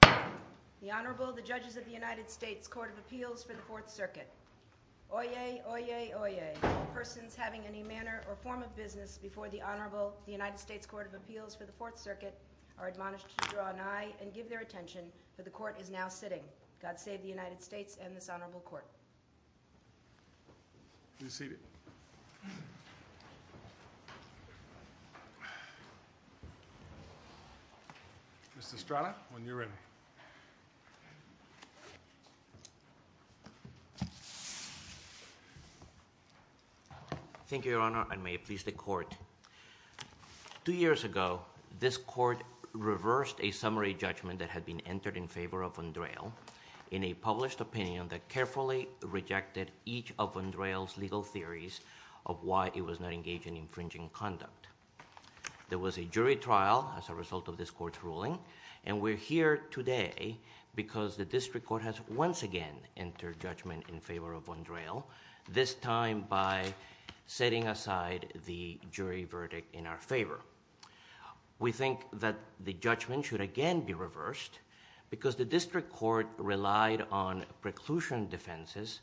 The Honorable, the Judges of the United States Court of Appeals for the Fourth Circuit. Oyez, oyez, oyez, all persons having any manner or form of business before the Honorable, the United States Court of Appeals for the Fourth Circuit, are admonished to draw an eye and give their attention, for the Court is now sitting. God save the United States and this Honorable Court. Be seated. Mr. Estrada, when you're ready. Thank you, Your Honor, and may it please the Court. Two years ago, this Court reversed a summary judgment that had been entered in favor of Von Drehle in a published opinion that carefully rejected each of Von Drehle's legal theories of why he was not engaged in infringing conduct. There was a jury trial as a result of this Court's ruling, and we're here today because the District Court has once again entered judgment in favor of Von Drehle, this time by setting aside the jury verdict in our favor. We think that the judgment should again be reversed because the District Court relied on preclusion defenses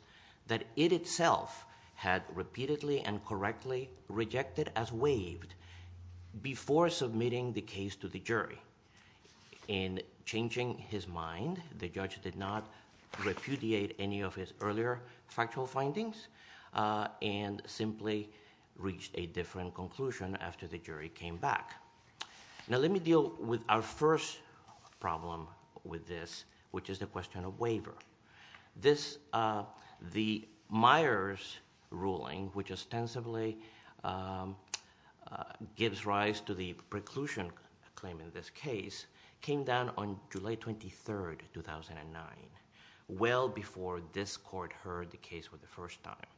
that it itself had repeatedly and correctly rejected as waived before submitting the case to the jury. In changing his mind, the judge did not repudiate any of his earlier factual findings and simply reached a different conclusion after the jury came back. Now, let me deal with our first problem with this, which is the question of waiver. The Myers ruling, which ostensibly gives rise to the preclusion claim in this case, came down on July 23rd, 2009, well before this Court heard the case for the first time.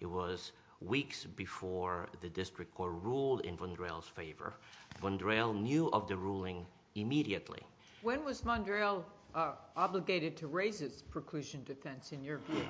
It was weeks before the District Court ruled in Von Drehle's favor. Von Drehle knew of the ruling immediately. When was Von Drehle obligated to raise his preclusion defense in your view?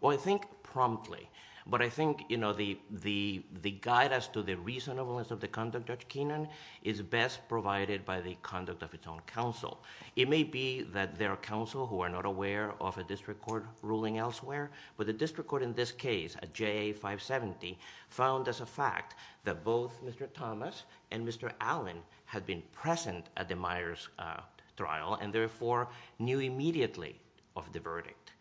Well, I think promptly, but I think the guide as to the reasonableness of the conduct of Judge Keenan is best provided by the conduct of its own counsel. It may be that there are counsel who are not aware of a District Court ruling elsewhere, but the District Court in this case, at JA 570, found as a fact that both Mr. Thomas and Mr. Allen had been present at the Myers trial and therefore knew immediately of the verdict.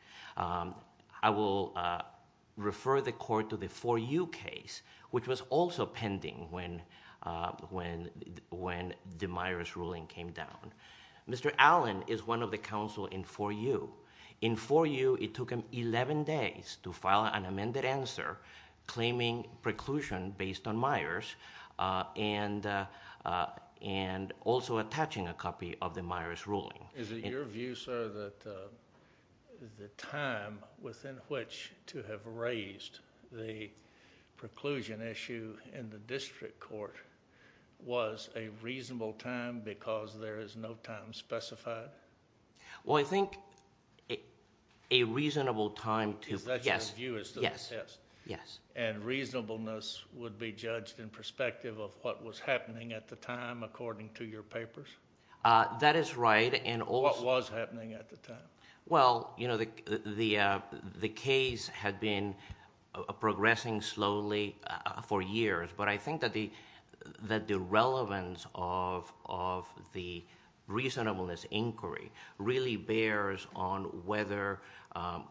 I will refer the Court to the 4U case, which was also pending when the Myers ruling came down. Mr. Allen is one of the counsel in 4U. In 4U, it took him eleven days to file an amended answer claiming preclusion based on Myers and also attaching a copy of the Myers ruling. Is it your view, sir, that the time within which to have raised the preclusion issue in the District Court was a reasonable time because there is no time specified? Well, I think a reasonable time to— Is that your view as to the test? Yes. And reasonableness would be judged in perspective of what was happening at the time according to your papers? That is right. What was happening at the time? Well, you know, the case had been progressing slowly for years, but I think that the relevance of the reasonableness inquiry really bears on whether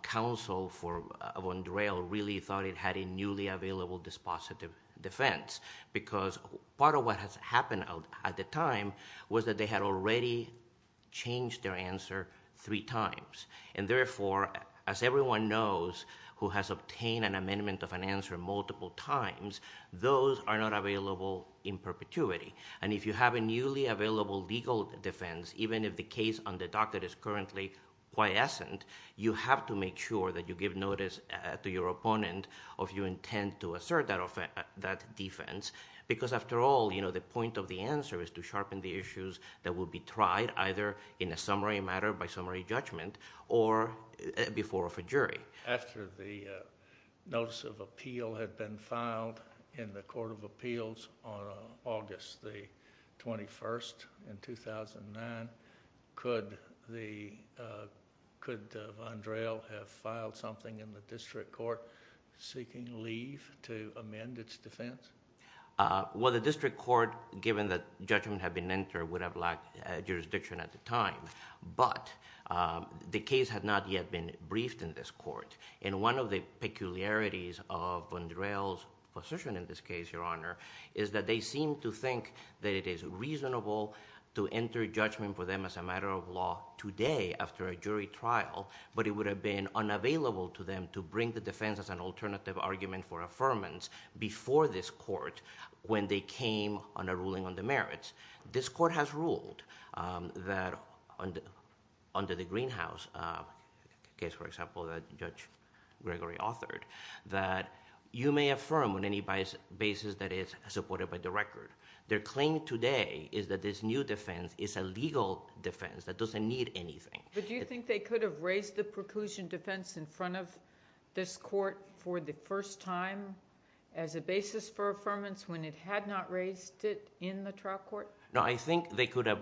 counsel for Vondrell really thought it had a newly available dispositive defense because part of what has happened at the time was that they had already changed their answer three times. And therefore, as everyone knows who has obtained an amendment of an answer multiple times, those are not available in perpetuity. And if you have a newly available legal defense, even if the case on the docket is currently quiescent, you have to make sure that you give notice to your opponent of your intent to assert that defense because after all, you know, the point of the answer is to sharpen the issues that will be tried either in a summary matter by summary judgment or before of a jury. After the notice of appeal had been filed in the Court of Appeals on August the 21st in 2009, could Vondrell have filed something in the district court seeking leave to amend its defense? Well, the district court, given that judgment had been entered, would have lacked jurisdiction at the time, but the case had not yet been briefed in this court. And one of the peculiarities of Vondrell's position in this case, Your Honor, is that they seem to think that it is reasonable to enter judgment for them as a matter of law today after a jury trial, but it would have been unavailable to them to bring the defense as an alternative argument for affirmance before this court when they came on a ruling on the merits. This court has ruled that under the Greenhouse case, for example, that Judge Gregory authored, that you may affirm on any basis that is supported by the record. Their claim today is that this new defense is a legal defense that doesn't need anything. But do you think they could have raised the preclusion defense in front of this court for the first time as a basis for affirmance when it had not raised it in the trial court? No, I think they could have...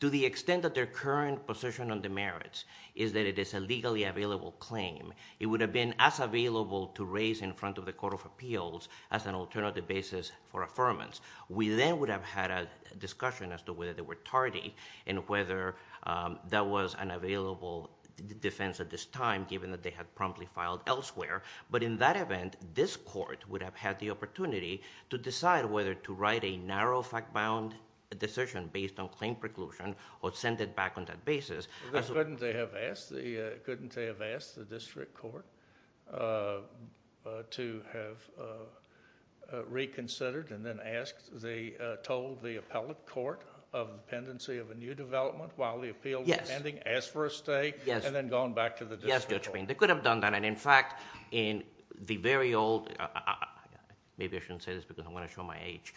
to the extent that their current position on the merits is that it is a legally available claim, it would have been as available to raise in front of the Court of Appeals as an alternative basis for affirmance. We then would have had a discussion as to whether they were tardy and whether that was an available defense at this time given that they had promptly filed elsewhere. But in that event, this court would have had the opportunity to decide whether to write a narrow fact-bound decision based on claim preclusion or send it back on that basis. Couldn't they have asked the district court to have reconsidered and then told the appellate court of the pendency of a new development while the appeal was pending, asked for a stay, and then gone back to the district court? Yes, they could have done that. In fact, in the very old... maybe I shouldn't say this because I'm going to show my age.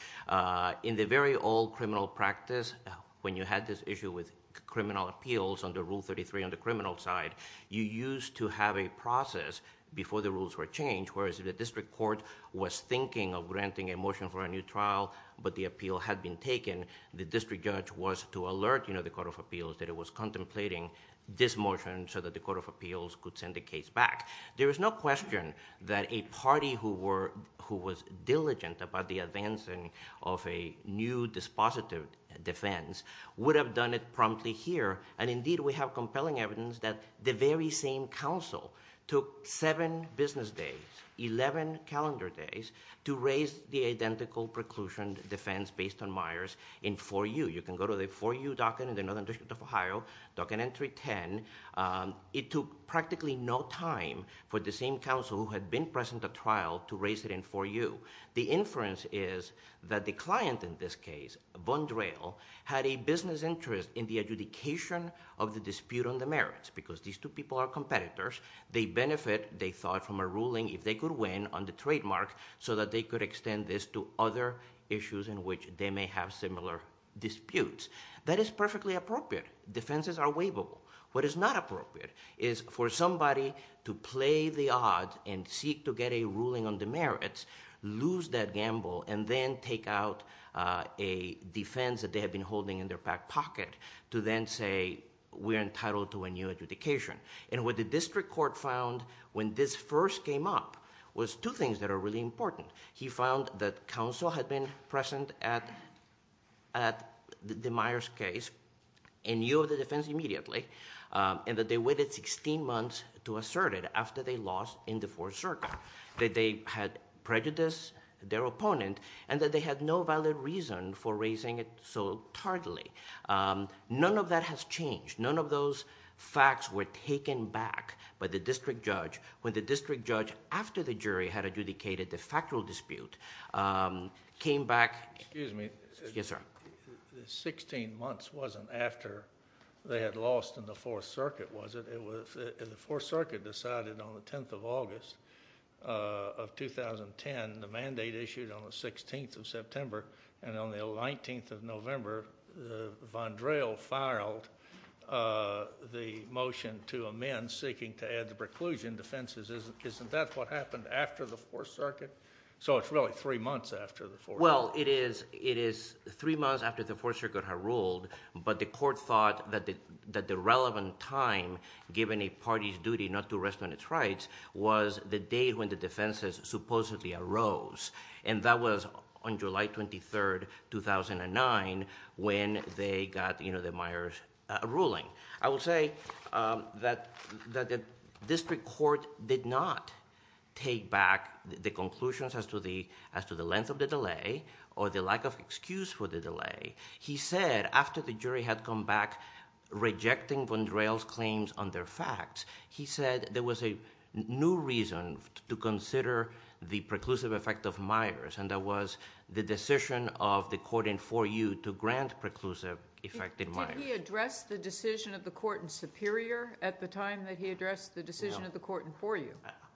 In the very old criminal practice, when you had this issue with criminal appeals under Rule 33 on the criminal side, you used to have a process before the rules were changed, whereas if the district court was thinking of granting a motion for a new trial but the appeal had been taken, the district judge was to alert the Court of Appeals that it was contemplating this motion so that the Court of Appeals could send the case back. There is no question that a party who was diligent about the advancing of a new dispositive defense would have done it promptly here. And indeed, we have compelling evidence that the very same counsel took seven business days, 11 calendar days, to raise the identical preclusion defense based on Myers in 4U. You can go to the 4U docket in the Northern District of Ohio, docket entry 10. It took practically no time for the same counsel who had been present at trial to raise it in 4U. The inference is that the client in this case, Von Drehl, had a business interest in the adjudication of the dispute on the merits because these two people are competitors. They benefit, they thought, from a ruling if they could win on the trademark so that they could extend this to other issues in which they may have similar disputes. That is perfectly appropriate. Defenses are waivable. What is not appropriate is for somebody to play the odds and seek to get a ruling on the merits, lose that gamble, and then take out a defense that they had been holding in their back pocket to then say, we're entitled to a new adjudication. And what the district court found when this first came up was two things that are really important. He found that counsel had been present at Demeyer's case and knew of the defense immediately and that they waited sixteen months to assert it after they lost in the fourth circle, that they had prejudiced their opponent and that they had no valid reason for raising it so tartly. None of that has changed. None of those facts were taken back by the district judge when the district judge, after the jury had adjudicated the factual dispute, came back. Excuse me. Yes, sir. The sixteen months wasn't after they had lost in the fourth circuit, was it? The fourth circuit decided on the 10th of August of 2010. The mandate issued on the 16th of September, and on the 19th of November, Vondrel filed the motion to amend seeking to add the preclusion defenses. Isn't that what happened after the fourth circuit? So it's really three months after the fourth circuit. Well, it is three months after the fourth circuit had ruled, but the court thought that the relevant time, given a party's duty not to rest on its rights, was the date when the defenses supposedly arose, and that was on July 23rd, 2009, when they got the Myers ruling. I will say that the district court did not take back the conclusions as to the length of the delay or the lack of excuse for the delay. He said, after the jury had come back rejecting Vondrel's claims on their facts, he said there was a new reason to consider the preclusive effect of Myers, and that was the decision of the court in 4U to grant preclusive effect in Myers. Did he address the decision of the court in Superior at the time that he addressed the decision of the court in 4U?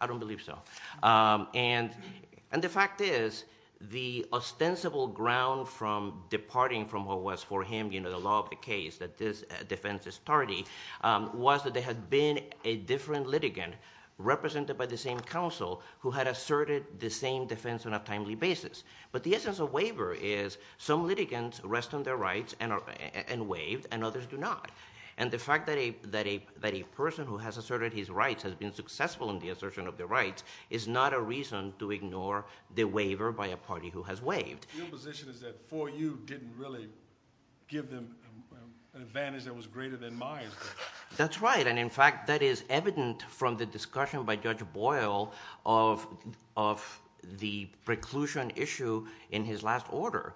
I don't believe so. The fact is, the ostensible ground from departing from what was for him, you know, the law of the case that this defense is tardy, was that there had been a different litigant represented by the same counsel who had asserted the same defense on a timely basis. But the essence of waiver is some litigants rest on their rights and are waived, and others do not. And the fact that a person who has asserted his rights has been successful in the assertion of their rights is not a reason to ignore the waiver by a party who has waived. Your position is that 4U didn't really give them an advantage that was greater than Myers. That's right, and in fact, that is evident from the discussion by Judge Boyle of the preclusion issue in his last order.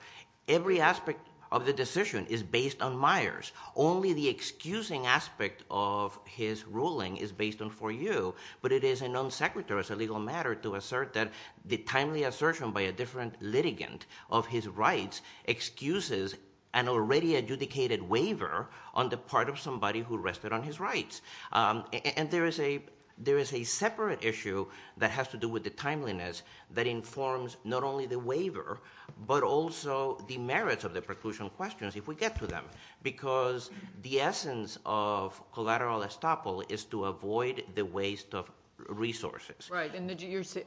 Every aspect of the decision is based on Myers. Only the excusing aspect of his ruling is based on 4U, but it is a non sequitur, it's a legal matter to assert that the timely assertion by a different litigant of his rights excuses an already adjudicated waiver on the part of somebody who rested on his rights. And there is a separate issue that has to do with the timeliness that informs not only the waiver, but also the merits of the preclusion questions if we get to them. Because the essence of collateral estoppel is to avoid the waste of resources. Right, and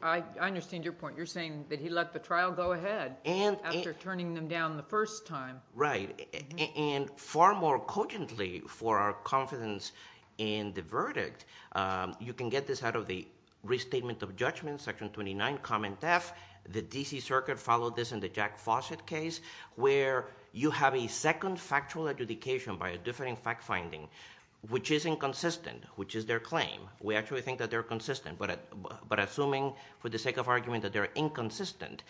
I understand your point. You're saying that he let the trial go ahead after turning them down the first time. Right, and far more cogently for our confidence in the verdict, you can get this out of the Restatement of Judgment, Section 29, Comment F. The D.C. Circuit followed this in the Jack Fawcett case, where you have a second factual adjudication by a different fact finding, which is inconsistent, which is their claim. We actually think that they're consistent, but assuming for the sake of argument that they're inconsistent,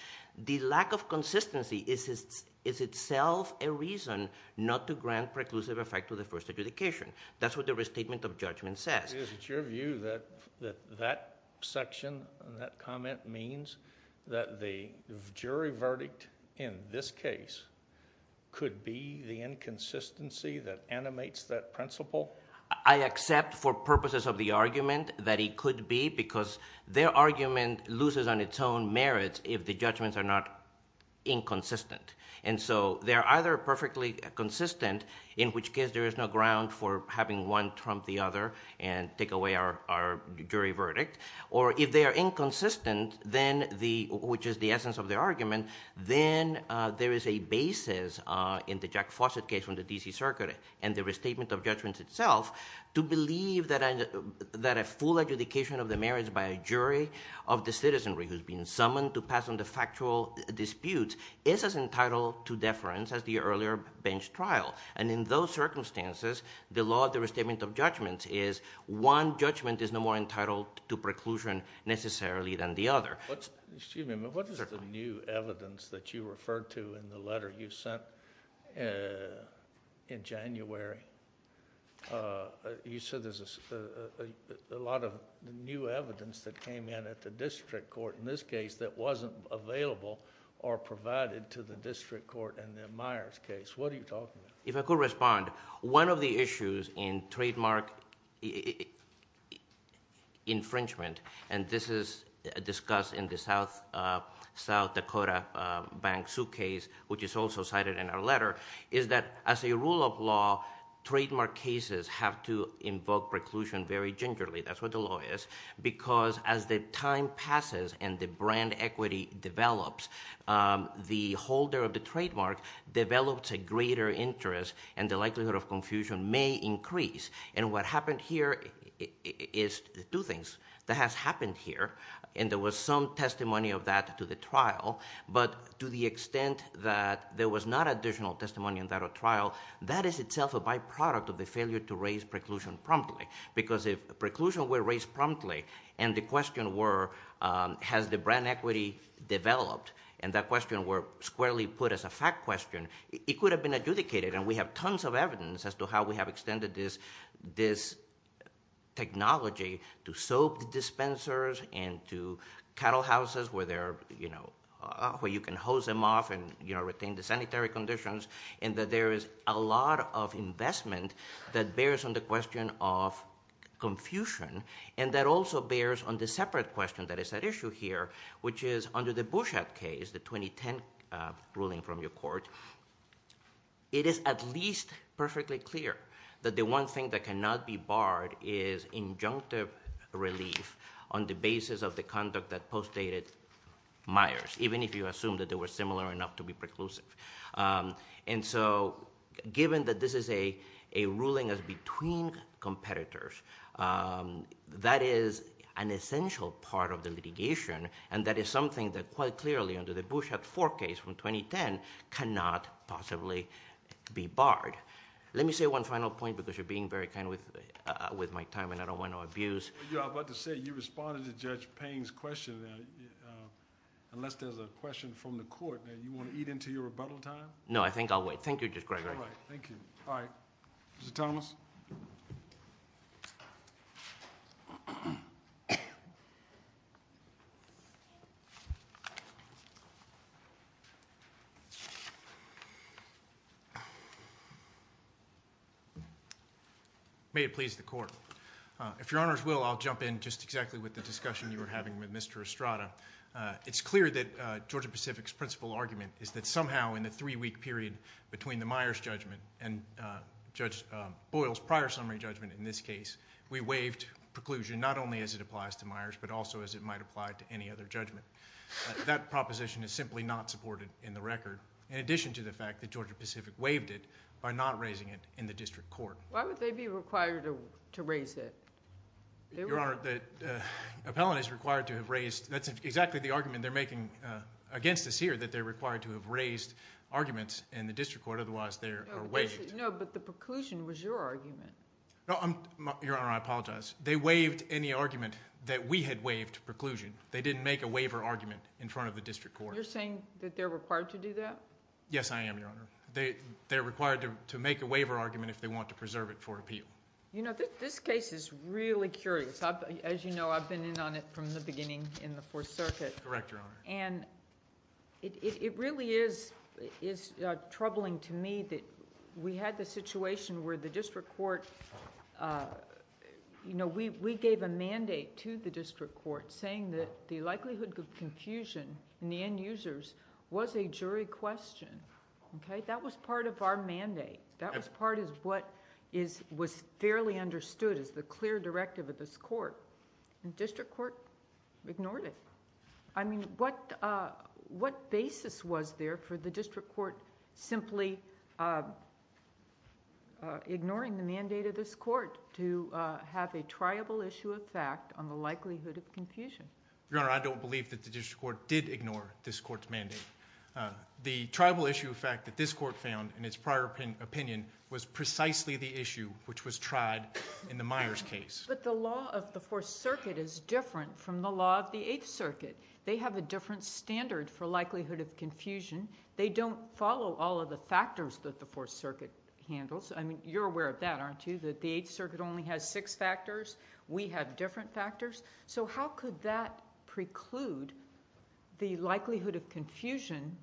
the lack of consistency is itself a reason not to grant preclusive effect to the first adjudication. That's what the Restatement of Judgment says. It's your view that that section, that comment means that the jury verdict in this case could be the inconsistency that animates that principle? I accept for purposes of the argument that it could be because their argument loses on its own merits if the judgments are not inconsistent. And so they're either perfectly consistent, in which case there is no ground for having one trump the other, and take away our jury verdict. Or if they are inconsistent, which is the essence of the argument, then there is a basis in the Jack Fawcett case from the D.C. Circuit and the Restatement of Judgment itself to believe that a full adjudication of the merits by a jury of the citizenry who's been summoned to pass on the factual dispute is as entitled to deference as the earlier bench trial. And in those circumstances, the law of the Restatement of Judgment is one judgment is no more entitled to preclusion necessarily than the other. Excuse me, but what is the new evidence that you referred to in the letter you sent in January? You said there's a lot of new evidence that came in at the district court, in this case, that wasn't available or provided to the district court in the Myers case. What are you talking about? If I could respond. One of the issues in trademark infringement, and this is discussed in the South Dakota bank suitcase, which is also cited in our letter, is that as a rule of law, trademark cases have to invoke preclusion very gingerly. That's what the law is. Because as the time passes and the brand equity develops, the holder of the trademark develops a greater interest and the likelihood of confusion may increase. And what happened here is two things. That has happened here, and there was some testimony of that to the trial, but to the extent that there was not additional testimony in that trial, that is itself a byproduct of the failure to raise preclusion promptly. Because if preclusion were raised promptly and the question were has the brand equity developed, and that question were squarely put as a fact question, it could have been adjudicated, and we have tons of evidence as to how we have extended this technology to soap dispensers and to cattle houses where you can hose them off and retain the sanitary conditions, and that there is a lot of investment that bears on the question of confusion and that also bears on the separate question that is at issue here, which is under the Bouchat case, the 2010 ruling from your court, it is at least perfectly clear that the one thing that cannot be barred is injunctive relief on the basis of the conduct that postdated Myers, even if you assume that they were similar enough to be preclusive. Given that this is a ruling as between competitors, that is an essential part of the litigation and that is something that quite clearly under the Bouchat 4 case from 2010 cannot possibly be barred. Let me say one final point because you're being very kind with my time and I don't want to abuse... I was about to say you responded to Judge Payne's question. Unless there's a question from the court and you want to eat into your rebuttal time? No, I think I'll wait. Thank you, Judge Gregory. All right. Thank you. All right. Mr. Thomas? May it please the court. If your honors will, I'll jump in just exactly with the discussion you were having with Mr. Estrada. It's clear that Georgia Pacific's principle argument is that somehow in the three-week period between the Myers judgment and Judge Boyle's prior summary judgment in this case, we waived preclusion not only as it applies to Myers but also as it might apply to any other judgment. That proposition is simply not supported in the record in addition to the fact that Georgia Pacific waived it by not raising it in the district court. Why would they be required to raise it? Your honor, the appellant is required to have raised... That's exactly the argument they're making against us here, that they're required to have raised arguments in the district court. Otherwise, they are waived. No, but the preclusion was your argument. Your honor, I apologize. They waived any argument that we had waived preclusion. They didn't make a waiver argument in front of the district court. You're saying that they're required to do that? Yes, I am, Your Honor. They're required to make a waiver argument if they want to preserve it for appeal. This case is really curious. As you know, I've been in on it from the beginning in the Fourth Circuit. Correct, Your Honor. It really is troubling to me that we had the situation where the district court... We gave a mandate to the district court saying that the likelihood of confusion in the end users was a jury question. That was part of our mandate. That was part of what was fairly understood as the clear directive of this court. The district court ignored it. I mean, what basis was there for the district court simply ignoring the mandate of this court to have a triable issue of fact on the likelihood of confusion? Your Honor, I don't believe that the district court did ignore this court's mandate. The triable issue of fact that this court found in its prior opinion was precisely the issue which was tried in the Myers case. But the law of the Fourth Circuit is different from the law of the Eighth Circuit. They have a different standard for likelihood of confusion. They don't follow all of the factors that the Fourth Circuit handles. I mean, you're aware of that, aren't you? That the Eighth Circuit only has six factors. We have different factors. So how could that preclude the likelihood of confusion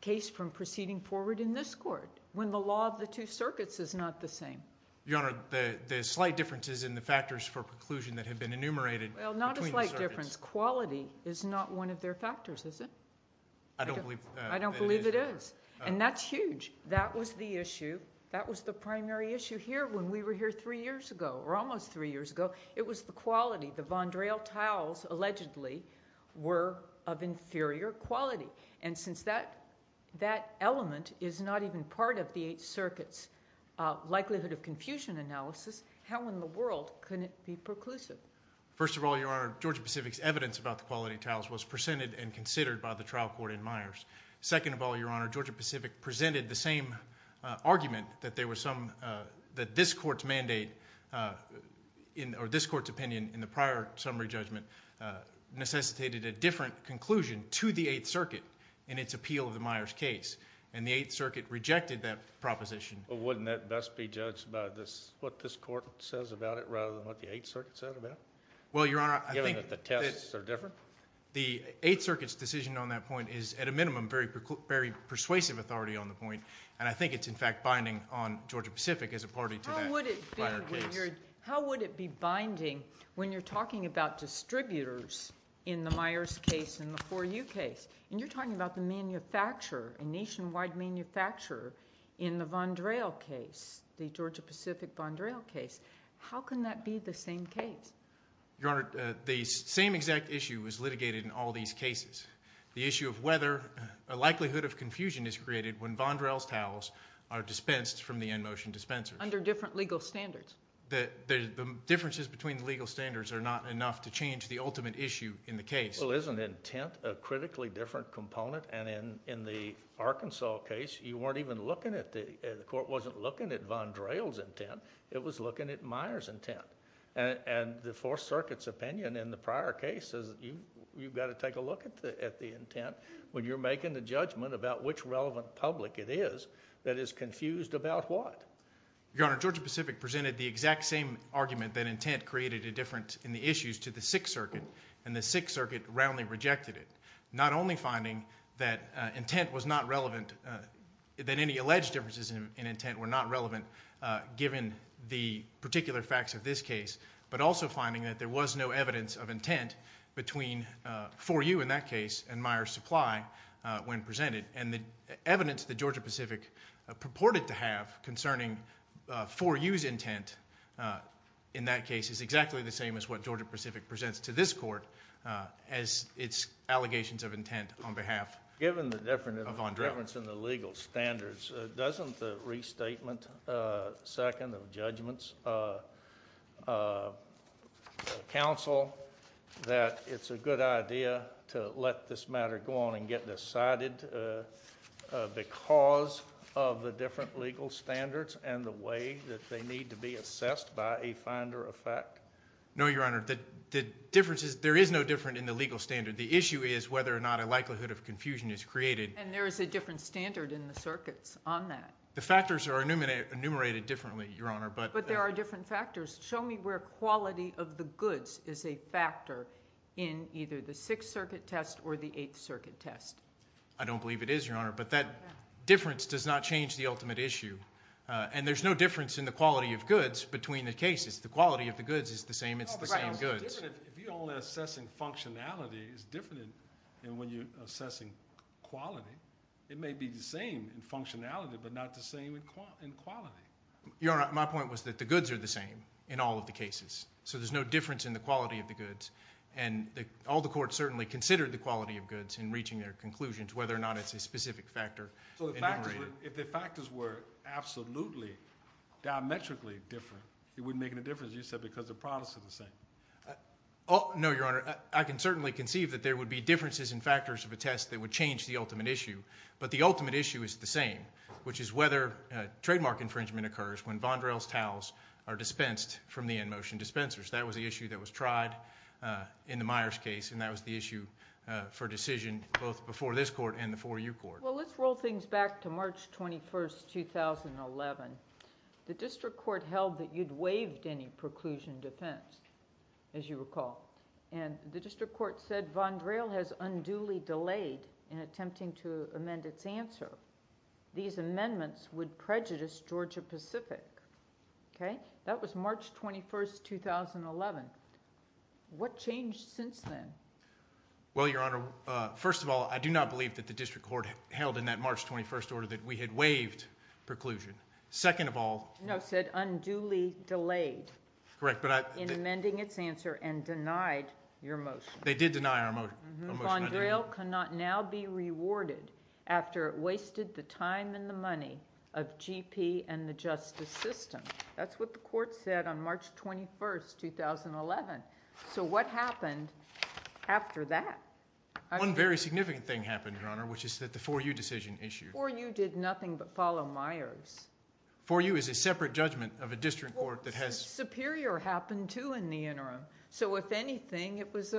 case from proceeding forward in this court when the law of the two circuits is not the same? Your Honor, the slight difference is in the factors for preclusion that have been enumerated between the circuits. Well, not a slight difference. Quality is not one of their factors, is it? I don't believe that it is. I don't believe it is. And that's huge. That was the issue. That was the primary issue here when we were here three years ago, or almost three years ago. It was the quality. The Vondrell tiles allegedly were of inferior quality. And since that element is not even part of the Eighth Circuit's likelihood of confusion analysis, how in the world could it be preclusive? First of all, Your Honor, Georgia-Pacific's evidence about the quality of tiles was presented and considered by the trial court in Myers. Second of all, Your Honor, Georgia-Pacific presented the same argument that this court's mandate or this court's opinion in the prior summary judgment necessitated a different conclusion to the Eighth Circuit in its appeal of the Myers case, and the Eighth Circuit rejected that proposition. Well, wouldn't that best be judged by what this court says about it rather than what the Eighth Circuit said about it? Well, Your Honor, I think that the Eighth Circuit's decision on that point is at a minimum very persuasive authority on the point, and I think it's in fact binding on Georgia-Pacific as a party to that prior case. How would it be binding when you're talking about distributors in the Myers case and the 4U case? And you're talking about the manufacturer, a nationwide manufacturer in the Von Drell case, the Georgia-Pacific Von Drell case. How can that be the same case? Your Honor, the same exact issue was litigated in all these cases, the issue of whether a likelihood of confusion is created when Von Drell's towels are dispensed from the in-motion dispensers. Under different legal standards. The differences between the legal standards are not enough to change the ultimate issue in the case. Well, isn't intent a critically different component? And in the Arkansas case, you weren't even looking at the – the court wasn't looking at Von Drell's intent, it was looking at Myers' intent. And the Fourth Circuit's opinion in the prior case is you've got to take a look at the intent when you're making the judgment about which relevant public it is that is confused about what? Your Honor, Georgia-Pacific presented the exact same argument that intent created a difference in the issues to the Sixth Circuit, and the Sixth Circuit roundly rejected it. Not only finding that intent was not relevant – that any alleged differences in intent were not relevant given the particular facts of this case, but also finding that there was no evidence of intent between 4U in that case and Myers' supply when presented. And the evidence that Georgia-Pacific purported to have concerning 4U's intent in that case is exactly the same as what Georgia-Pacific presents to this court as its allegations of intent on behalf of Von Drell. Given the difference in the legal standards, doesn't the restatement second of judgment's counsel that it's a good idea to let this matter go on and get decided because of the different legal standards and the way that they need to be assessed by a finder of fact? No, Your Honor. The difference is – there is no difference in the legal standard. The issue is whether or not a likelihood of confusion is created. And there is a different standard in the circuits on that. The factors are enumerated differently, Your Honor, but – But there are different factors. Show me where quality of the goods is a factor in either the Sixth Circuit test or the Eighth Circuit test. I don't believe it is, Your Honor, but that difference does not change the ultimate issue. And there's no difference in the quality of goods between the cases. The quality of the goods is the same. It's the same goods. If you're only assessing functionality, it's different than when you're assessing quality. It may be the same in functionality, but not the same in quality. Your Honor, my point was that the goods are the same in all of the cases. So there's no difference in the quality of the goods. And all the courts certainly considered the quality of goods in reaching their conclusions, whether or not it's a specific factor enumerated. So if the factors were absolutely diametrically different, it wouldn't make any difference, you said, because the products are the same. No, Your Honor. I can certainly conceive that there would be differences in factors of a test that would change the ultimate issue. But the ultimate issue is the same, which is whether trademark infringement occurs when Vondrell's towels are dispensed from the in-motion dispensers. That was the issue that was tried in the Myers case, and that was the issue for decision both before this court and the 4U court. Well, let's roll things back to March 21, 2011. The district court held that you'd waived any preclusion defense, as you recall. And the district court said Vondrell has unduly delayed in attempting to amend its answer. These amendments would prejudice Georgia-Pacific. Okay? That was March 21, 2011. What changed since then? Well, Your Honor, first of all, I do not believe that the district court held in that March 21 order that we had waived preclusion. Second of all— No, it said unduly delayed in amending its answer and denied your motion. They did deny our motion. Vondrell cannot now be rewarded after it wasted the time and the money of GP and the justice system. That's what the court said on March 21, 2011. So what happened after that? One very significant thing happened, Your Honor, which is that the 4U decision issued. 4U did nothing but follow Myers. 4U is a separate judgment of a district court that has— Superior happened, too, in the interim. So if anything, it was,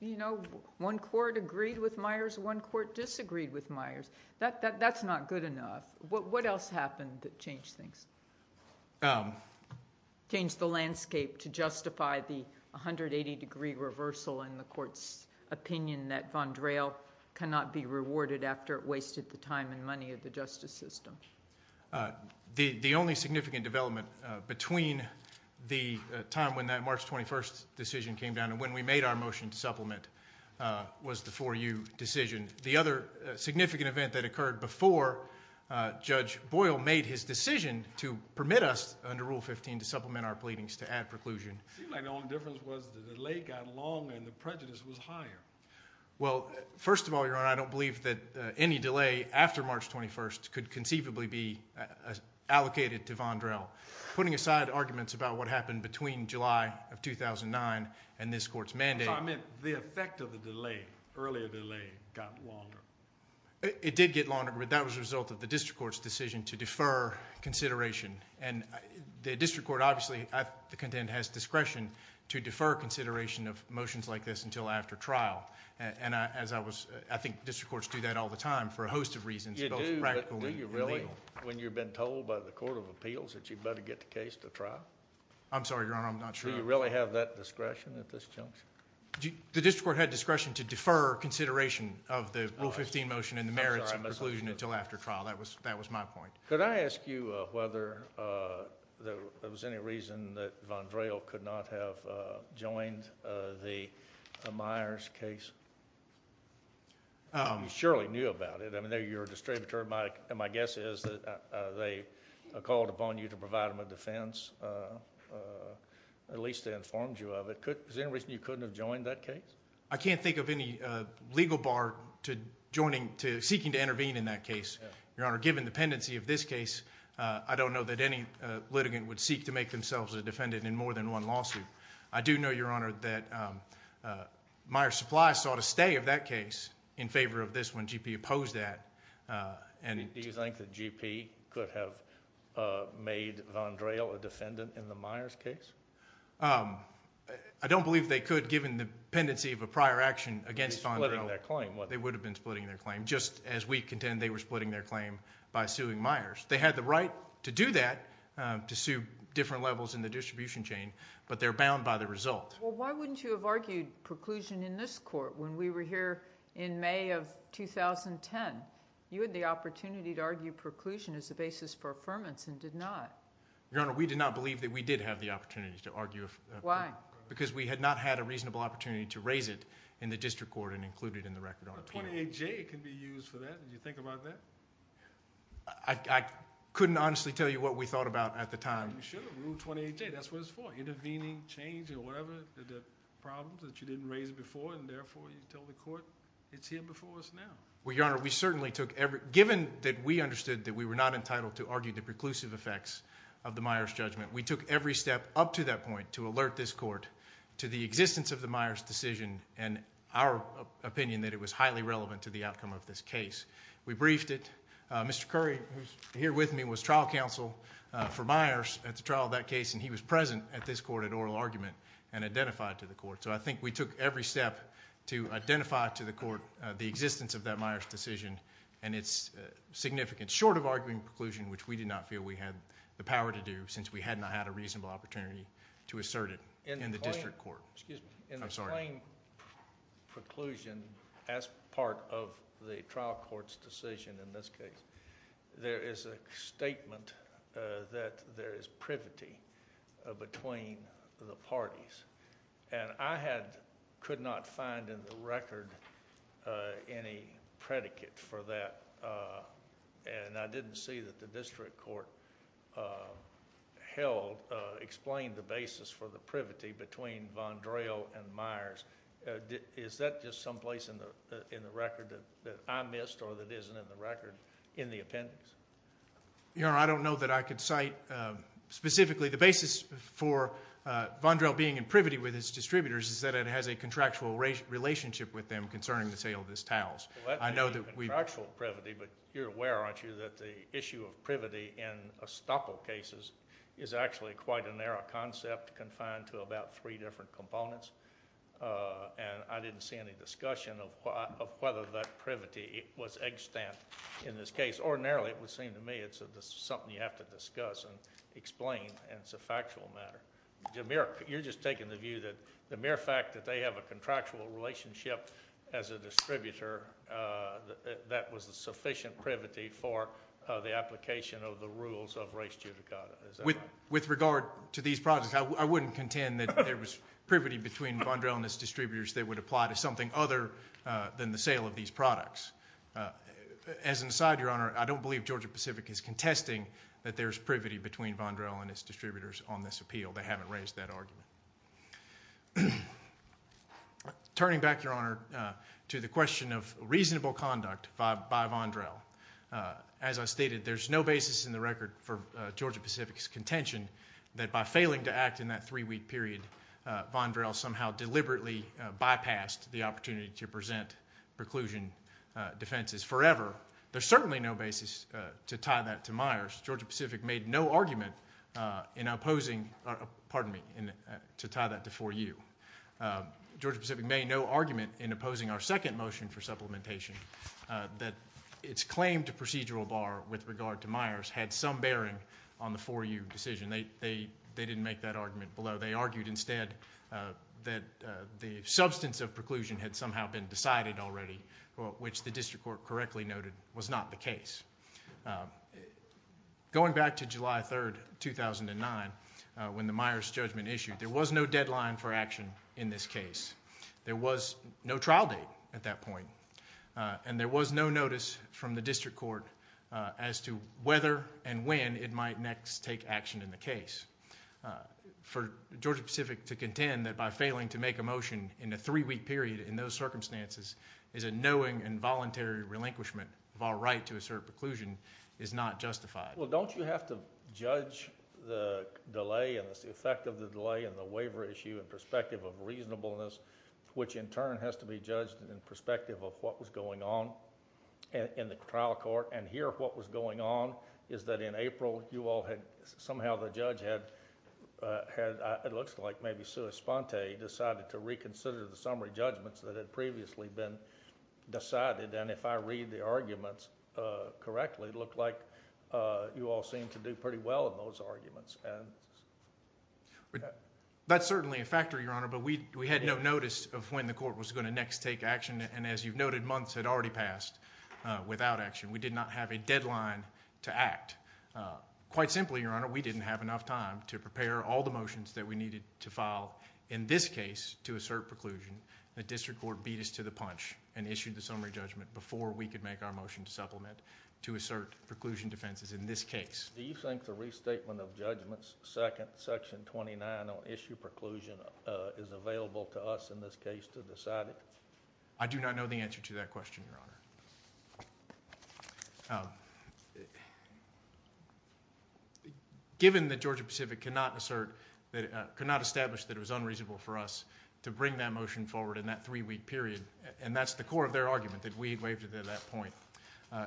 you know, one court agreed with Myers, one court disagreed with Myers. That's not good enough. What else happened that changed things, changed the landscape to justify the 180-degree reversal in the court's opinion that Vondrell cannot be rewarded after it wasted the time and money of the justice system? The only significant development between the time when that March 21 decision came down and when we made our motion to supplement was the 4U decision. The other significant event that occurred before Judge Boyle made his decision to permit us under Rule 15 to supplement our pleadings to add preclusion. It seemed like the only difference was the delay got longer and the prejudice was higher. Well, first of all, Your Honor, I don't believe that any delay after March 21 could conceivably be allocated to Vondrell. Putting aside arguments about what happened between July of 2009 and this court's mandate— I meant the effect of the delay, earlier delay, got longer. It did get longer, but that was a result of the district court's decision to defer consideration. The district court obviously, I contend, has discretion to defer consideration of motions like this until after trial. I think district courts do that all the time for a host of reasons, both practical and legal. Do you really, when you've been told by the Court of Appeals that you'd better get the case to trial? I'm sorry, Your Honor, I'm not sure. Do you really have that discretion at this juncture? The district court had discretion to defer consideration of the Rule 15 motion and the merits of preclusion until after trial. That was my point. Could I ask you whether there was any reason that Vondrell could not have joined the Myers case? He surely knew about it. I mean, you're a district attorney. My guess is that they called upon you to provide them a defense. At least they informed you of it. Is there any reason you couldn't have joined that case? I can't think of any legal bar to seeking to intervene in that case. Your Honor, given the pendency of this case, I don't know that any litigant would seek to make themselves a defendant in more than one lawsuit. I do know, Your Honor, that Myers Supply saw to stay of that case in favor of this one. GP opposed that. Do you think that GP could have made Vondrell a defendant in the Myers case? I don't believe they could, given the pendency of a prior action against Vondrell. They would have been splitting their claim, just as we contend they were splitting their claim by suing Myers. They had the right to do that, to sue different levels in the distribution chain, but they're bound by the result. Why wouldn't you have argued preclusion in this court when we were here in May of 2010? You had the opportunity to argue preclusion as a basis for affirmance and did not. Your Honor, we did not believe that we did have the opportunity to argue... Why? Because we had not had a reasonable opportunity to raise it in the district court and include it in the record on appeal. But 28J can be used for that. Did you think about that? I couldn't honestly tell you what we thought about at the time. You should have. Rule 28J, that's what it's for. Intervening, changing, or whatever the problems that you didn't raise before, and therefore you tell the court it's here before us now. Well, Your Honor, we certainly took every... Given that we understood that we were not entitled to argue the preclusive effects of the Myers judgment, we took every step up to that point to alert this court to the existence of the Myers decision and our opinion that it was highly relevant to the outcome of this case. We briefed it. Mr. Curry, who's here with me, was trial counsel for Myers at the trial of that case, and he was present at this court at oral argument and identified to the court. So I think we took every step to identify to the court the existence of that Myers decision and its significance, short of arguing preclusion, which we did not feel we had the power to do since we had not had a reasonable opportunity to assert it in the district court. Excuse me. I'm sorry. In the plain preclusion as part of the trial court's decision in this case, there is a statement that there is privity between the parties, and I could not find in the record any predicate for that, and I didn't see that the district court explained the basis for the privity between Vondrell and Myers. Is that just someplace in the record that I missed or that isn't in the record in the appendix? Your Honor, I don't know that I could cite specifically the basis for Vondrell being in privity with his distributors is that it has a contractual relationship with them concerning the sale of his towels. Well, that may be contractual privity, but you're aware, aren't you, that the issue of privity in estoppel cases is actually quite a narrow concept confined to about three different components, and I didn't see any discussion of whether that privity was extant in this case. Ordinarily, it would seem to me it's something you have to discuss and explain, and it's a factual matter. You're just taking the view that the mere fact that they have a contractual relationship as a distributor, that that was a sufficient privity for the application of the rules of res judicata. With regard to these products, I wouldn't contend that there was privity between Vondrell and his distributors that would apply to something other than the sale of these products. As an aside, Your Honor, I don't believe Georgia Pacific is contesting that there's privity between Vondrell and his distributors on this appeal. They haven't raised that argument. Turning back, Your Honor, to the question of reasonable conduct by Vondrell, as I stated, there's no basis in the record for Georgia Pacific's contention that by failing to act in that three-week period, Vondrell somehow deliberately bypassed the opportunity to present preclusion defenses forever. There's certainly no basis to tie that to Myers. Georgia Pacific made no argument in opposing to tie that to 4U. Georgia Pacific made no argument in opposing our second motion for supplementation that its claim to procedural bar with regard to Myers had some bearing on the 4U decision. They didn't make that argument below. They argued instead that the substance of preclusion had somehow been decided already, which the district court correctly noted was not the case. Going back to July 3, 2009, when the Myers judgment issued, there was no deadline for action in this case. There was no trial date at that point, and there was no notice from the district court as to whether and when it might next take action in the case. For Georgia Pacific to contend that by failing to make a motion in a three-week period in those circumstances is a knowing and voluntary relinquishment of our right to assert preclusion is not justified. Well, don't you have to judge the delay and the effect of the delay and the waiver issue in perspective of reasonableness, which in turn has to be judged in perspective of what was going on in the trial court, and here what was going on is that in April you all had somehow the judge had, it looks like maybe Sue Esponte decided to reconsider the summary judgments that had previously been decided, and if I read the arguments correctly, it looked like you all seemed to do pretty well in those arguments. That's certainly a factor, Your Honor, but we had no notice of when the court was going to next take action, and as you've noted, months had already passed without action. We did not have a deadline to act. Quite simply, Your Honor, we didn't have enough time to prepare all the motions that we needed to file, in this case, to assert preclusion. The district court beat us to the punch and issued the summary judgment before we could make our motion to supplement to assert preclusion defenses in this case. Do you think the restatement of judgments, second section 29, on issue preclusion is available to us in this case to decide it? I do not know the answer to that question, Your Honor. Given that Georgia Pacific could not establish that it was unreasonable for us to bring that motion forward in that three-week period, and that's the core of their argument, that we had waived it at that point,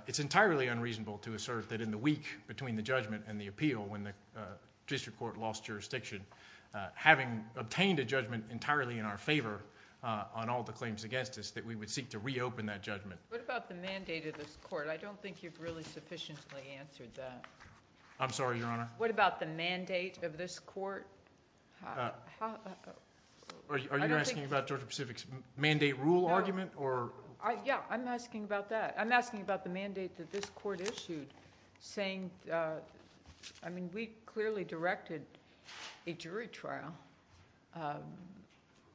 it's entirely unreasonable to assert that in the week between the judgment and the appeal, when the district court lost jurisdiction, having obtained a judgment entirely in our favor on all the claims against us, that we would seek to reopen that judgment. What about the mandate of this court? I don't think you've really sufficiently answered that. I'm sorry, Your Honor? What about the mandate of this court? Are you asking about Georgia Pacific's mandate rule argument? Yeah, I'm asking about that. I'm asking about the mandate that this court issued, saying, I mean, we clearly directed a jury trial.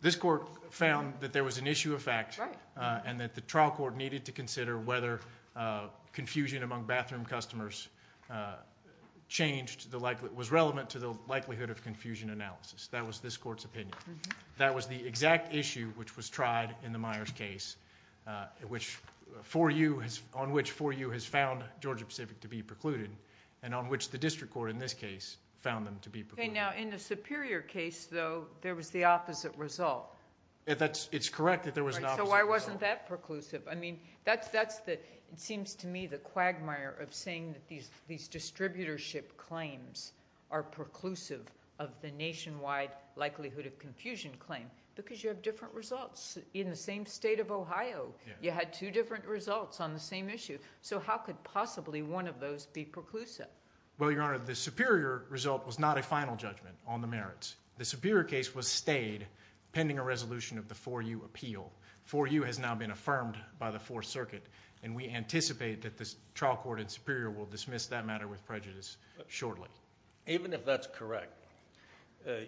This court found that there was an issue of fact, and that the trial court needed to consider whether confusion among bathroom customers was relevant to the likelihood of confusion analysis. That was this court's opinion. That was the exact issue which was tried in the Myers case, on which 4U has found Georgia Pacific to be precluded, and on which the district court, in this case, found them to be precluded. Okay, now, in the Superior case, though, there was the opposite result. It's correct that there was an opposite result. So why wasn't that preclusive? I mean, it seems to me the quagmire of saying that these distributorship claims are preclusive of the nationwide likelihood of confusion claim, because you have different results. In the same state of Ohio, you had two different results on the same issue. So how could possibly one of those be preclusive? Well, Your Honor, the Superior result was not a final judgment on the merits. The Superior case was stayed pending a resolution of the 4U appeal. 4U has now been affirmed by the Fourth Circuit, and we anticipate that the trial court in Superior will dismiss that matter with prejudice shortly. Even if that's correct,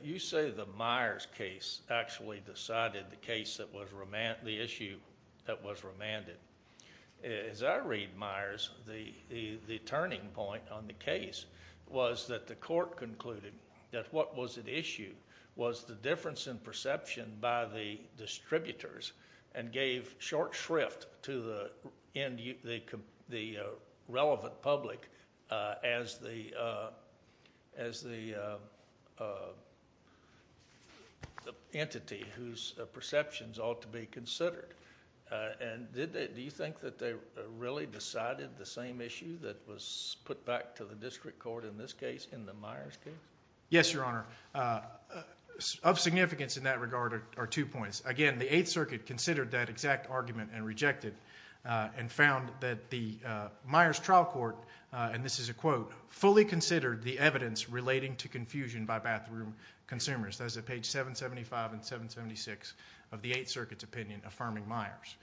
you say the Myers case actually decided the issue that was remanded. As I read Myers, the turning point on the case was that the court concluded that what was at issue was the difference in perception by the distributors and gave short shrift to the relevant public as the entity whose perceptions ought to be considered. Do you think that they really decided the same issue that was put back to the district court in this case, in the Myers case? Yes, Your Honor. Of significance in that regard are two points. Again, the Eighth Circuit considered that exact argument and rejected it, and found that the Myers trial court, and this is a quote, fully considered the evidence relating to confusion by bathroom consumers. Those are page 775 and 776 of the Eighth Circuit's opinion affirming Myers.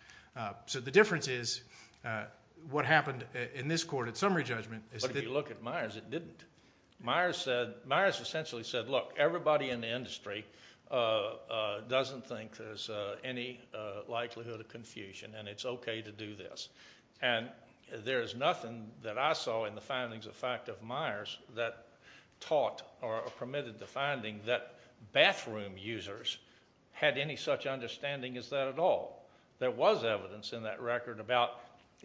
So the difference is what happened in this court at summary judgment is that... But if you look at Myers, it didn't. Myers essentially said, look, everybody in the industry doesn't think there's any likelihood of confusion, and it's okay to do this. And there's nothing that I saw in the findings of fact of Myers that taught or permitted the finding that bathroom users had any such understanding as that at all. There was evidence in that record about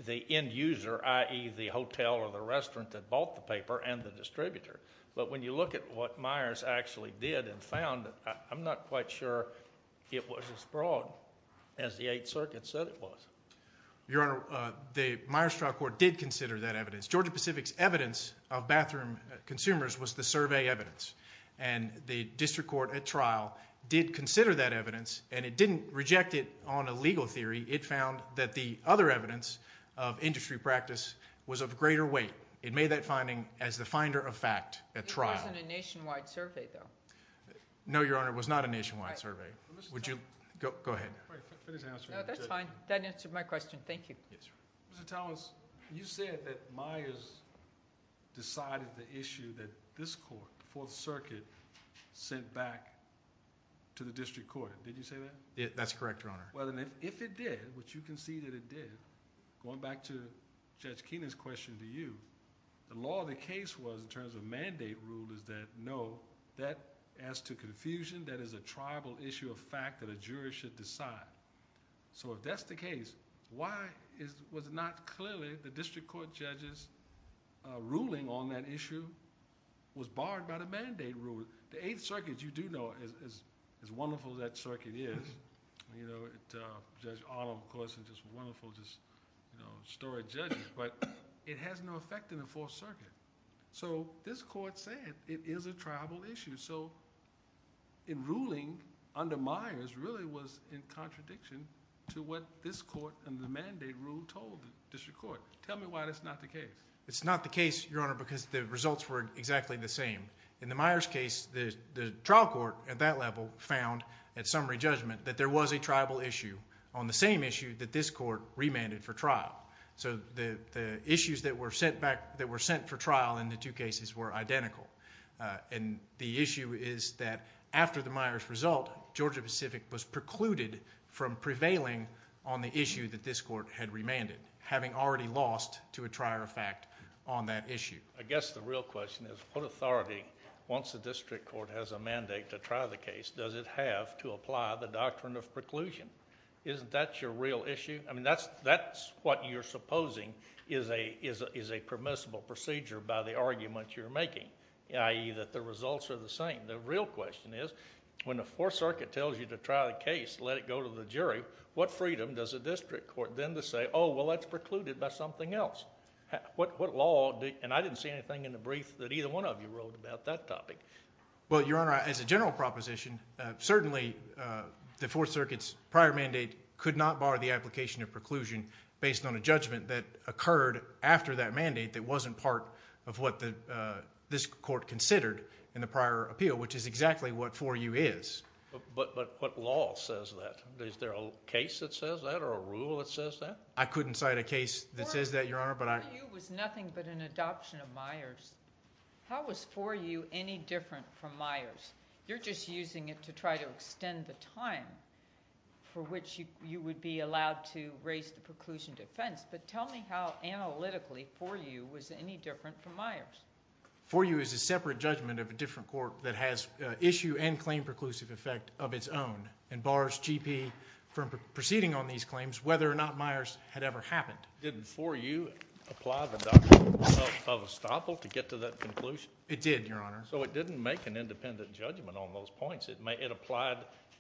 the end user, i.e. the hotel or the restaurant that bought the paper and the distributor. But when you look at what Myers actually did and found, I'm not quite sure it was as broad as the Eighth Circuit said it was. Your Honor, the Myers trial court did consider that evidence. Georgia Pacific's evidence of bathroom consumers was the survey evidence, and the district court at trial did consider that evidence, and it didn't reject it on a legal theory. It found that the other evidence of industry practice was of greater weight. It made that finding as the finder of fact at trial. It wasn't a nationwide survey, though. No, Your Honor, it was not a nationwide survey. Go ahead. No, that's fine. That answered my question. Thank you. Mr. Thomas, you said that Myers decided the issue that this court, the Fourth Circuit, sent back to the district court. Did you say that? That's correct, Your Honor. Well, then if it did, which you conceded it did, going back to Judge Keenan's question to you, the law of the case was, in terms of mandate rule, is that no, that adds to confusion. That is a tribal issue of fact that a jury should decide. So if that's the case, why was it not clearly the district court judge's ruling on that issue was barred by the mandate rule? The Eighth Circuit, you do know, is as wonderful as that circuit is. Judge Otto, of course, is just wonderful, just a story of judges. But it has no effect in the Fourth Circuit. So this court said it is a tribal issue. So in ruling under Myers really was in contradiction to what this court under the mandate rule told the district court. Tell me why that's not the case. It's not the case, Your Honor, because the results were exactly the same. In the Myers case, the trial court at that level found, at summary judgment, that there was a tribal issue on the same issue that this court remanded for trial. So the issues that were sent for trial in the two cases were identical. And the issue is that after the Myers result, Georgia Pacific was precluded from prevailing on the issue that this court had remanded, having already lost to a trier of fact on that issue. I guess the real question is what authority, once the district court has a mandate to try the case, does it have to apply the doctrine of preclusion? Isn't that your real issue? I mean, that's what you're supposing is a permissible procedure by the argument you're making, i.e. that the results are the same. The real question is when the Fourth Circuit tells you to try the case, let it go to the jury, what freedom does a district court then to say, oh, well, that's precluded by something else? What law? And I didn't see anything in the brief that either one of you wrote about that topic. Well, Your Honor, as a general proposition, certainly the Fourth Circuit's prior mandate could not bar the application of preclusion based on a judgment that occurred after that mandate that wasn't part of what this court considered in the prior appeal, which is exactly what 4U is. But what law says that? Is there a case that says that or a rule that says that? I couldn't cite a case that says that, Your Honor. 4U was nothing but an adoption of Myers. How was 4U any different from Myers? You're just using it to try to extend the time for which you would be allowed to raise the preclusion defense. But tell me how analytically 4U was any different from Myers. 4U is a separate judgment of a different court that has issue and claim preclusive effect of its own and bars GP from proceeding on these claims whether or not Myers had ever happened. Did 4U apply the doctrine of estoppel to get to that conclusion? It did, Your Honor. So it didn't make an independent judgment on those points.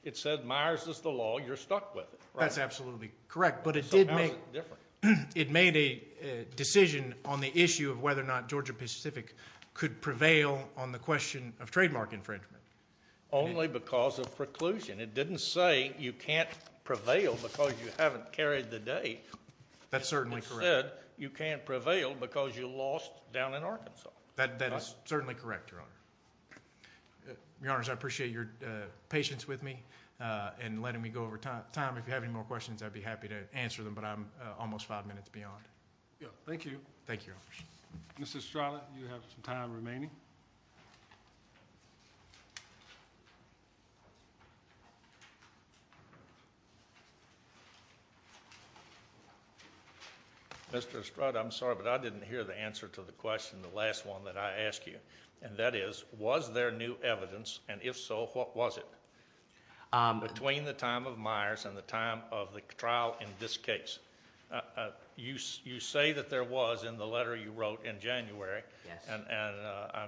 It said Myers is the law. You're stuck with it. That's absolutely correct. So how is it different? It made a decision on the issue of whether or not Georgia-Pacific could prevail on the question of trademark infringement. Only because of preclusion. It didn't say you can't prevail because you haven't carried the date. That's certainly correct. It said you can't prevail because you lost down in Arkansas. That is certainly correct, Your Honor. Your Honors, I appreciate your patience with me and letting me go over time. If you have any more questions, I'd be happy to answer them, but I'm almost five minutes beyond. Thank you. Thank you, Your Honors. Mr. Estrada, you have some time remaining. Mr. Estrada, I'm sorry, but I didn't hear the answer to the question, the last one that I asked you. And that is, was there new evidence? And if so, what was it? Between the time of Myers and the time of the trial in this case, you say that there was in the letter you wrote in January. Yes. And I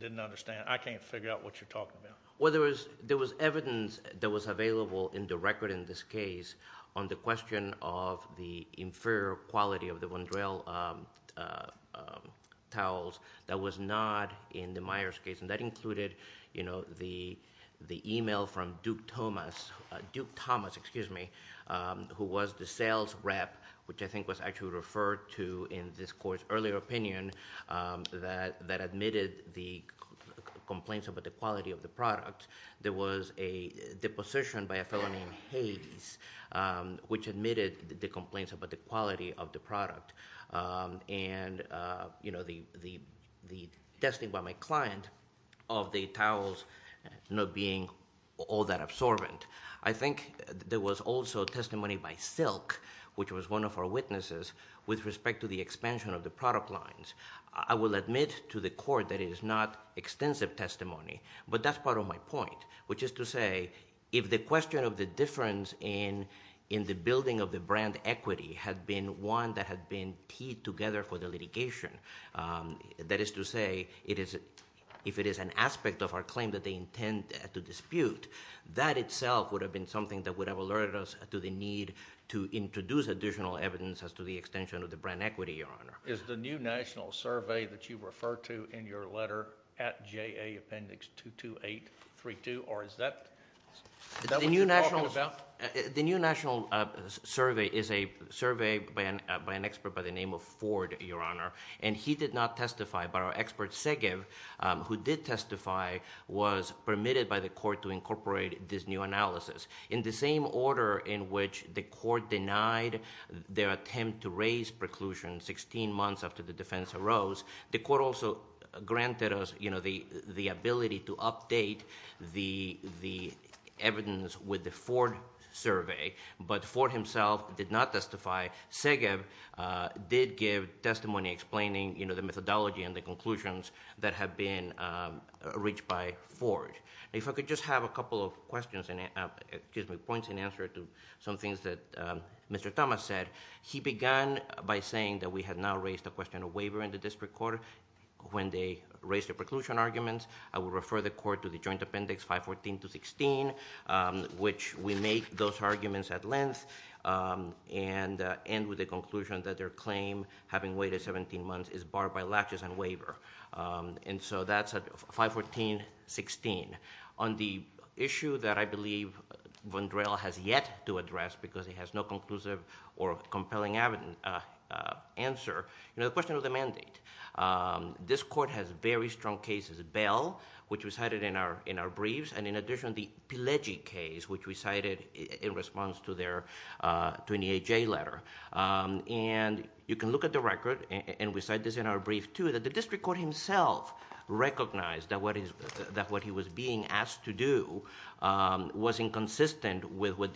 didn't understand. I can't figure out what you're talking about. Well, there was evidence that was available in the record in this case on the question of the inferior quality of the Wondrell towels that was not in the Myers case. And that included, you know, the email from Duke Thomas, Duke Thomas, excuse me, who was the sales rep, which I think was actually referred to in this court's earlier opinion, that admitted the complaints about the quality of the product. There was a deposition by a fellow named Hades, which admitted the complaints about the quality of the product. And, you know, the testing by my client of the towels not being all that absorbent. I think there was also testimony by Silk, which was one of our witnesses, with respect to the expansion of the product lines. I will admit to the court that it is not extensive testimony, but that's part of my point, which is to say, if the question of the difference in the building of the brand equity had been one that had been teed together for the litigation, that is to say, if it is an aspect of our claim that they intend to dispute, that itself would have been something that would have alerted us to the need to introduce additional evidence as to the extension of the brand equity, Your Honor. Is the new national survey that you refer to in your letter at JA Appendix 22832, or is that what you're talking about? The new national survey is a survey by an expert by the name of Ford, Your Honor, and he did not testify, but our expert Segev, who did testify, was permitted by the court to incorporate this new analysis. In the same order in which the court denied their attempt to raise preclusion sixteen months after the defense arose, the court also granted us the ability to update the evidence with the Ford survey, but Ford himself did not testify. Segev did give testimony explaining the methodology and the conclusions that have been reached by Ford. If I could just have a couple of points in answer to some things that Mr. Thomas said. He began by saying that we had now raised the question of waiver in the district court when they raised the preclusion arguments. I will refer the court to the Joint Appendix 514 to 16, which we make those arguments at length, and end with the conclusion that their claim, having waited 17 months, is barred by latches and waiver. And so that's 514.16. On the issue that I believe Vondrell has yet to address, because he has no conclusive or compelling answer, the question of the mandate. This court has very strong cases. Bell, which we cited in our briefs, and in addition the Pileggi case, which we cited in response to their 28-J letter. And you can look at the record, and we cite this in our brief too, that the district court himself recognized that what he was being asked to do was inconsistent with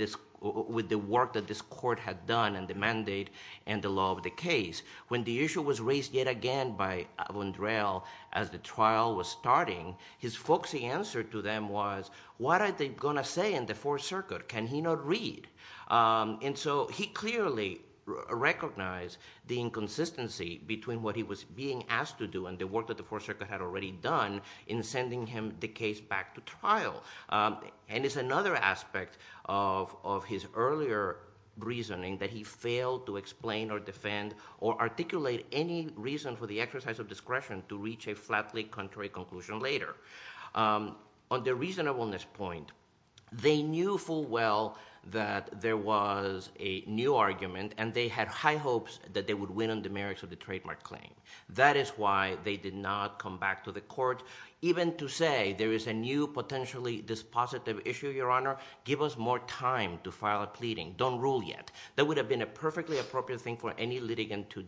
the work that this court had done and the mandate and the law of the case. When the issue was raised yet again by Vondrell as the trial was starting, his folksy answer to them was, what are they going to say in the Fourth Circuit? Can he not read? And so he clearly recognized the inconsistency between what he was being asked to do and the work that the Fourth Circuit had already done in sending him the case back to trial. And it's another aspect of his earlier reasoning that he failed to explain or defend or articulate any reason for the exercise of discretion to reach a flatly contrary conclusion later. On the reasonableness point, they knew full well that there was a new argument, and they had high hopes that they would win on the merits of the trademark claim. That is why they did not come back to the court even to say, there is a new potentially dispositive issue, Your Honor. Give us more time to file a pleading. Don't rule yet. That would have been a perfectly appropriate thing for any litigant to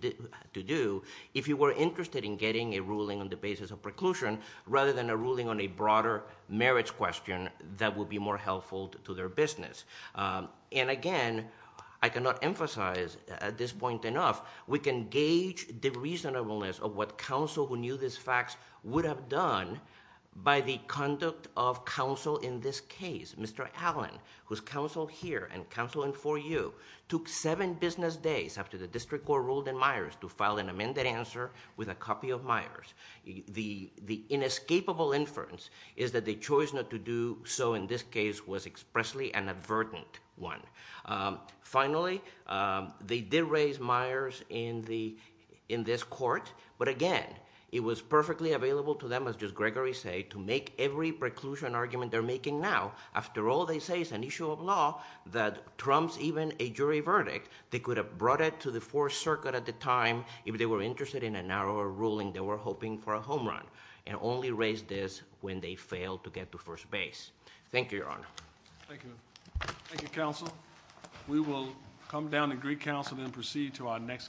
do if you were interested in getting a ruling on the basis of preclusion rather than a ruling on a broader merits question that would be more helpful to their business. And again, I cannot emphasize at this point enough, we can gauge the reasonableness of what counsel who knew these facts would have done by the conduct of counsel in this case. Mr. Allen, who is counsel here and counsel in 4U, took seven business days after the district court ruled in Myers to file an amended answer with a copy of Myers. The inescapable inference is that the choice not to do so in this case was expressly an advertent one. Finally, they did raise Myers in this court, but again, it was perfectly available to them, as does Gregory say, to make every preclusion argument they're making now. After all, they say it's an issue of law that trumps even a jury verdict. They could have brought it to the Fourth Circuit at the time if they were interested in a narrower ruling they were hoping for a home run and only raised this when they failed to get to first base. Thank you, Your Honor. Thank you. Thank you, counsel. We will come down to Greek Council and proceed to our next case.